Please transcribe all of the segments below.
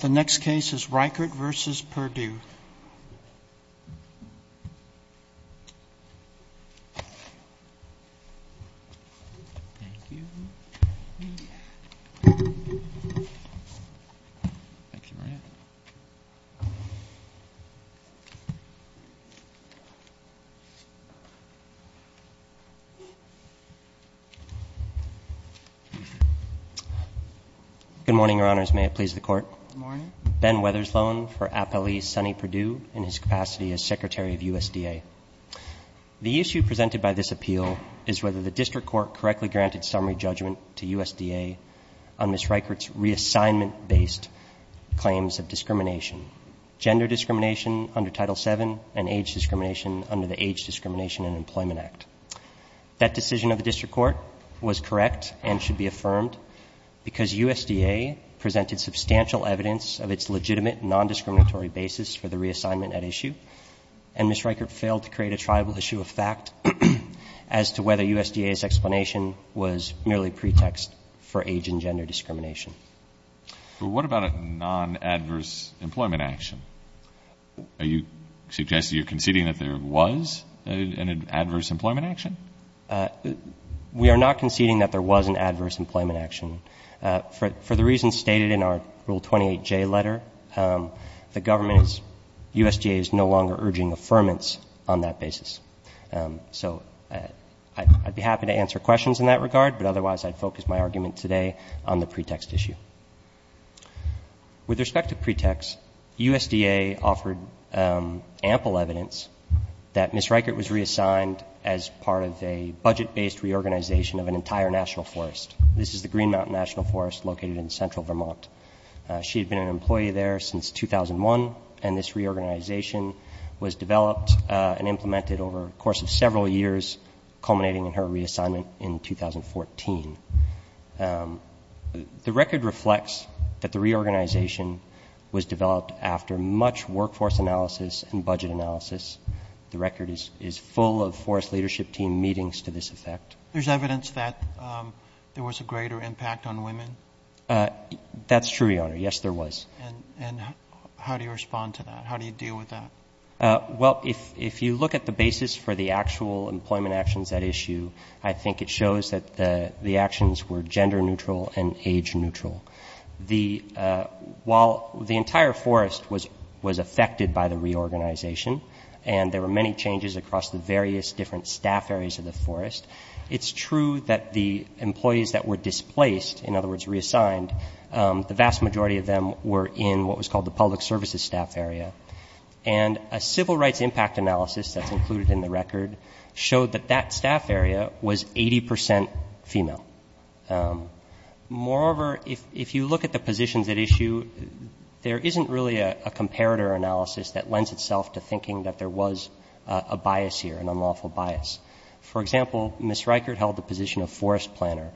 The next case is Reichert v. Perdue. Good morning, Your Honors. May it please the Court? Good morning. This is Ben Wethersloan for Appellee Sonny Perdue in his capacity as Secretary of USDA. The issue presented by this appeal is whether the district court correctly granted summary judgment to USDA on Ms. Reichert's reassignment-based claims of discrimination, gender discrimination under Title VII and age discrimination under the Age Discrimination and Employment Act. That decision of the district court was correct and should be affirmed because USDA presented substantial evidence of its legitimate non-discriminatory basis for the reassignment at issue, and Ms. Reichert failed to create a tribal issue of fact as to whether USDA's explanation was merely pretext for age and gender discrimination. Well, what about a non-adverse employment action? Are you suggesting you're conceding that there was an adverse employment action? We are not conceding that there was an adverse employment action. For the reasons stated in our Rule 28J letter, the government's USDA is no longer urging affirmance on that basis. So I'd be happy to answer questions in that regard, but otherwise I'd focus my argument today on the pretext issue. With respect to pretext, USDA offered ample evidence that Ms. Reichert was reassigned as part of a budget-based reorganization of an entire national forest. This is the Green Mountain National Forest located in central Vermont. She had been an employee there since 2001, and this reorganization was developed and implemented over the course of several years, culminating in her reassignment in 2014. The record reflects that the reorganization was developed after much workforce analysis and budget analysis. The record is full of forest leadership team meetings to this effect. There's evidence that there was a greater impact on women? That's true, Your Honor. Yes, there was. And how do you respond to that? How do you deal with that? Well, if you look at the basis for the actual employment actions at issue, I think it shows that the actions were gender neutral and age neutral. While the entire forest was affected by the reorganization, and there were many changes across the various different staff areas of the forest, it's true that the employees that were displaced, in other words reassigned, the vast majority of them were in what was called the public services staff area. And a civil rights impact analysis that's included in the record showed that that staff area was 80% female. Moreover, if you look at the positions at issue, there isn't really a comparator analysis that lends itself to thinking that there was a bias here, an unlawful bias. For example, Ms. Reichert held the position of forest planner.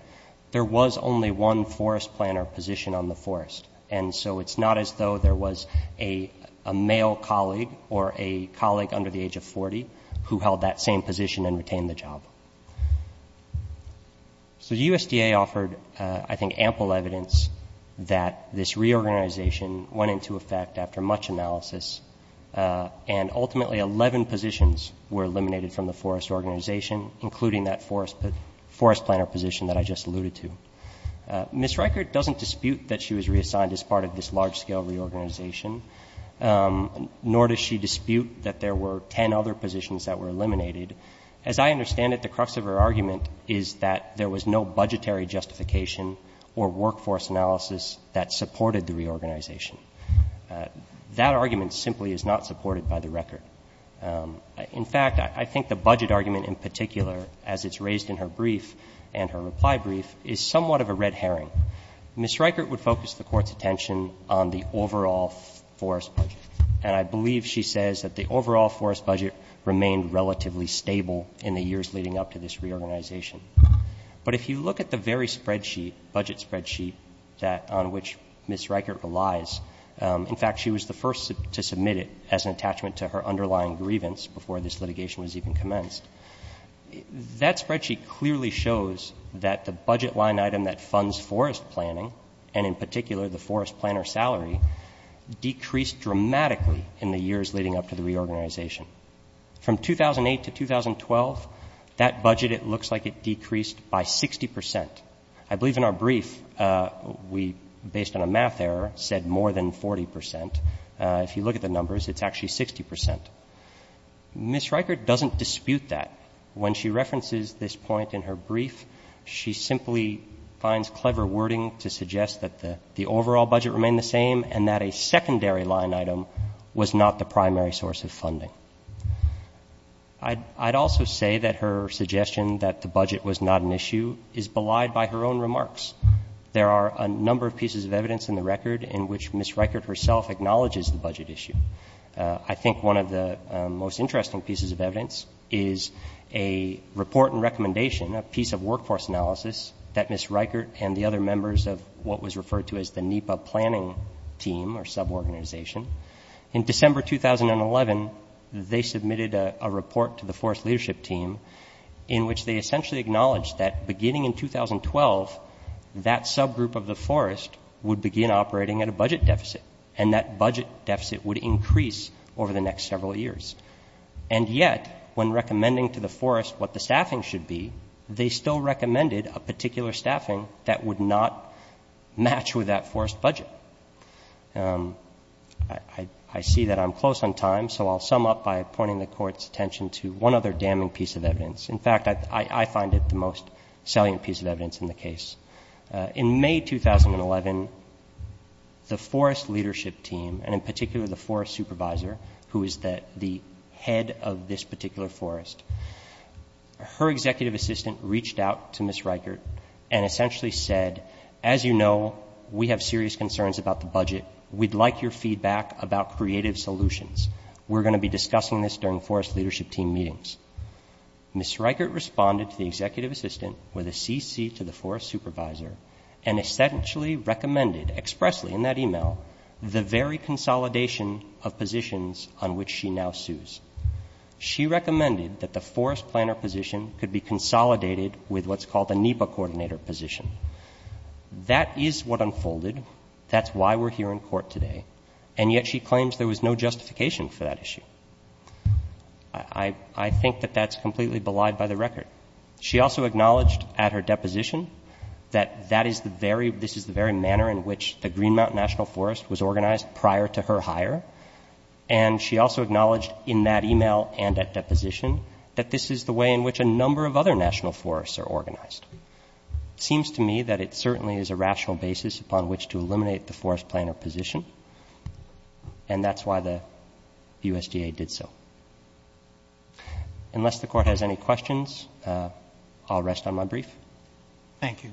There was only one forest planner position on the forest, and so it's not as though there was a male colleague or a colleague under the age of 40 who held that same position and retained the job. So the USDA offered, I think, ample evidence that this reorganization went into effect after much analysis, and ultimately 11 positions were eliminated from the forest organization, including that forest planner position that I just alluded to. Ms. Reichert doesn't dispute that she was reassigned as part of this large-scale reorganization, nor does she dispute that there were 10 other positions that were eliminated. As I understand it, the crux of her argument is that there was no budgetary justification or workforce analysis that supported the reorganization. That argument simply is not supported by the record. In fact, I think the budget argument in particular, as it's raised in her brief and her reply brief, is somewhat of a red herring. Ms. Reichert would focus the Court's attention on the overall forest budget, and I believe she says that the overall forest budget remained relatively stable in the years leading up to this reorganization. But if you look at the very spreadsheet, budget spreadsheet, that on which Ms. Reichert relies, in fact, she was the first to submit it as an attachment to her underlying grievance before this litigation was even commenced. That spreadsheet clearly shows that the budget line item that funds forest planning and in particular the forest planner salary decreased dramatically in the years leading up to the reorganization. From 2008 to 2012, that budget, it looks like it decreased by 60 percent. I believe in our brief we, based on a math error, said more than 40 percent. If you look at the numbers, it's actually 60 percent. Ms. Reichert doesn't dispute that. When she references this point in her brief, she simply finds clever wording to suggest that the overall budget remained the same and that a secondary line item was not the primary source of funding. I'd also say that her suggestion that the budget was not an issue is belied by her own remarks. There are a number of pieces of evidence in the record in which Ms. Reichert herself acknowledges the budget issue. I think one of the most interesting pieces of evidence is a report and recommendation, a piece of workforce analysis that Ms. Reichert and the other members of what was referred to as the NEPA planning team or suborganization. In December 2011, they submitted a report to the forest leadership team in which they essentially acknowledged that beginning in 2012, that subgroup of the forest would begin operating at a budget deficit and that budget deficit would increase over the next several years. And yet, when recommending to the forest what the staffing should be, they still recommended a particular staffing that would not match with that forest budget. I see that I'm close on time, so I'll sum up by pointing the Court's attention to one other damning piece of evidence. In fact, I find it the most salient piece of evidence in the case. In May 2011, the forest leadership team, and in particular the forest supervisor, who is the head of this particular forest, her executive assistant reached out to Ms. Reichert and essentially said, as you know, we have serious concerns about the budget. We'd like your feedback about creative solutions. We're going to be discussing this during forest leadership team meetings. Ms. Reichert responded to the executive assistant with a CC to the forest supervisor and essentially recommended expressly in that email the very consolidation of positions on which she now sues. She recommended that the forest planner position could be consolidated with what's called a NEPA coordinator position. That is what unfolded. That's why we're here in court today. And yet she claims there was no justification for that issue. I think that that's completely belied by the record. She also acknowledged at her deposition that this is the very manner in which the Green Mountain National Forest was organized prior to her hire, and she also acknowledged in that email and at deposition that this is the way in which a number of other national forests are organized. It seems to me that it certainly is a rational basis upon which to eliminate the forest planner position, and that's why the USDA did so. Unless the Court has any questions, I'll rest on my brief. Thank you.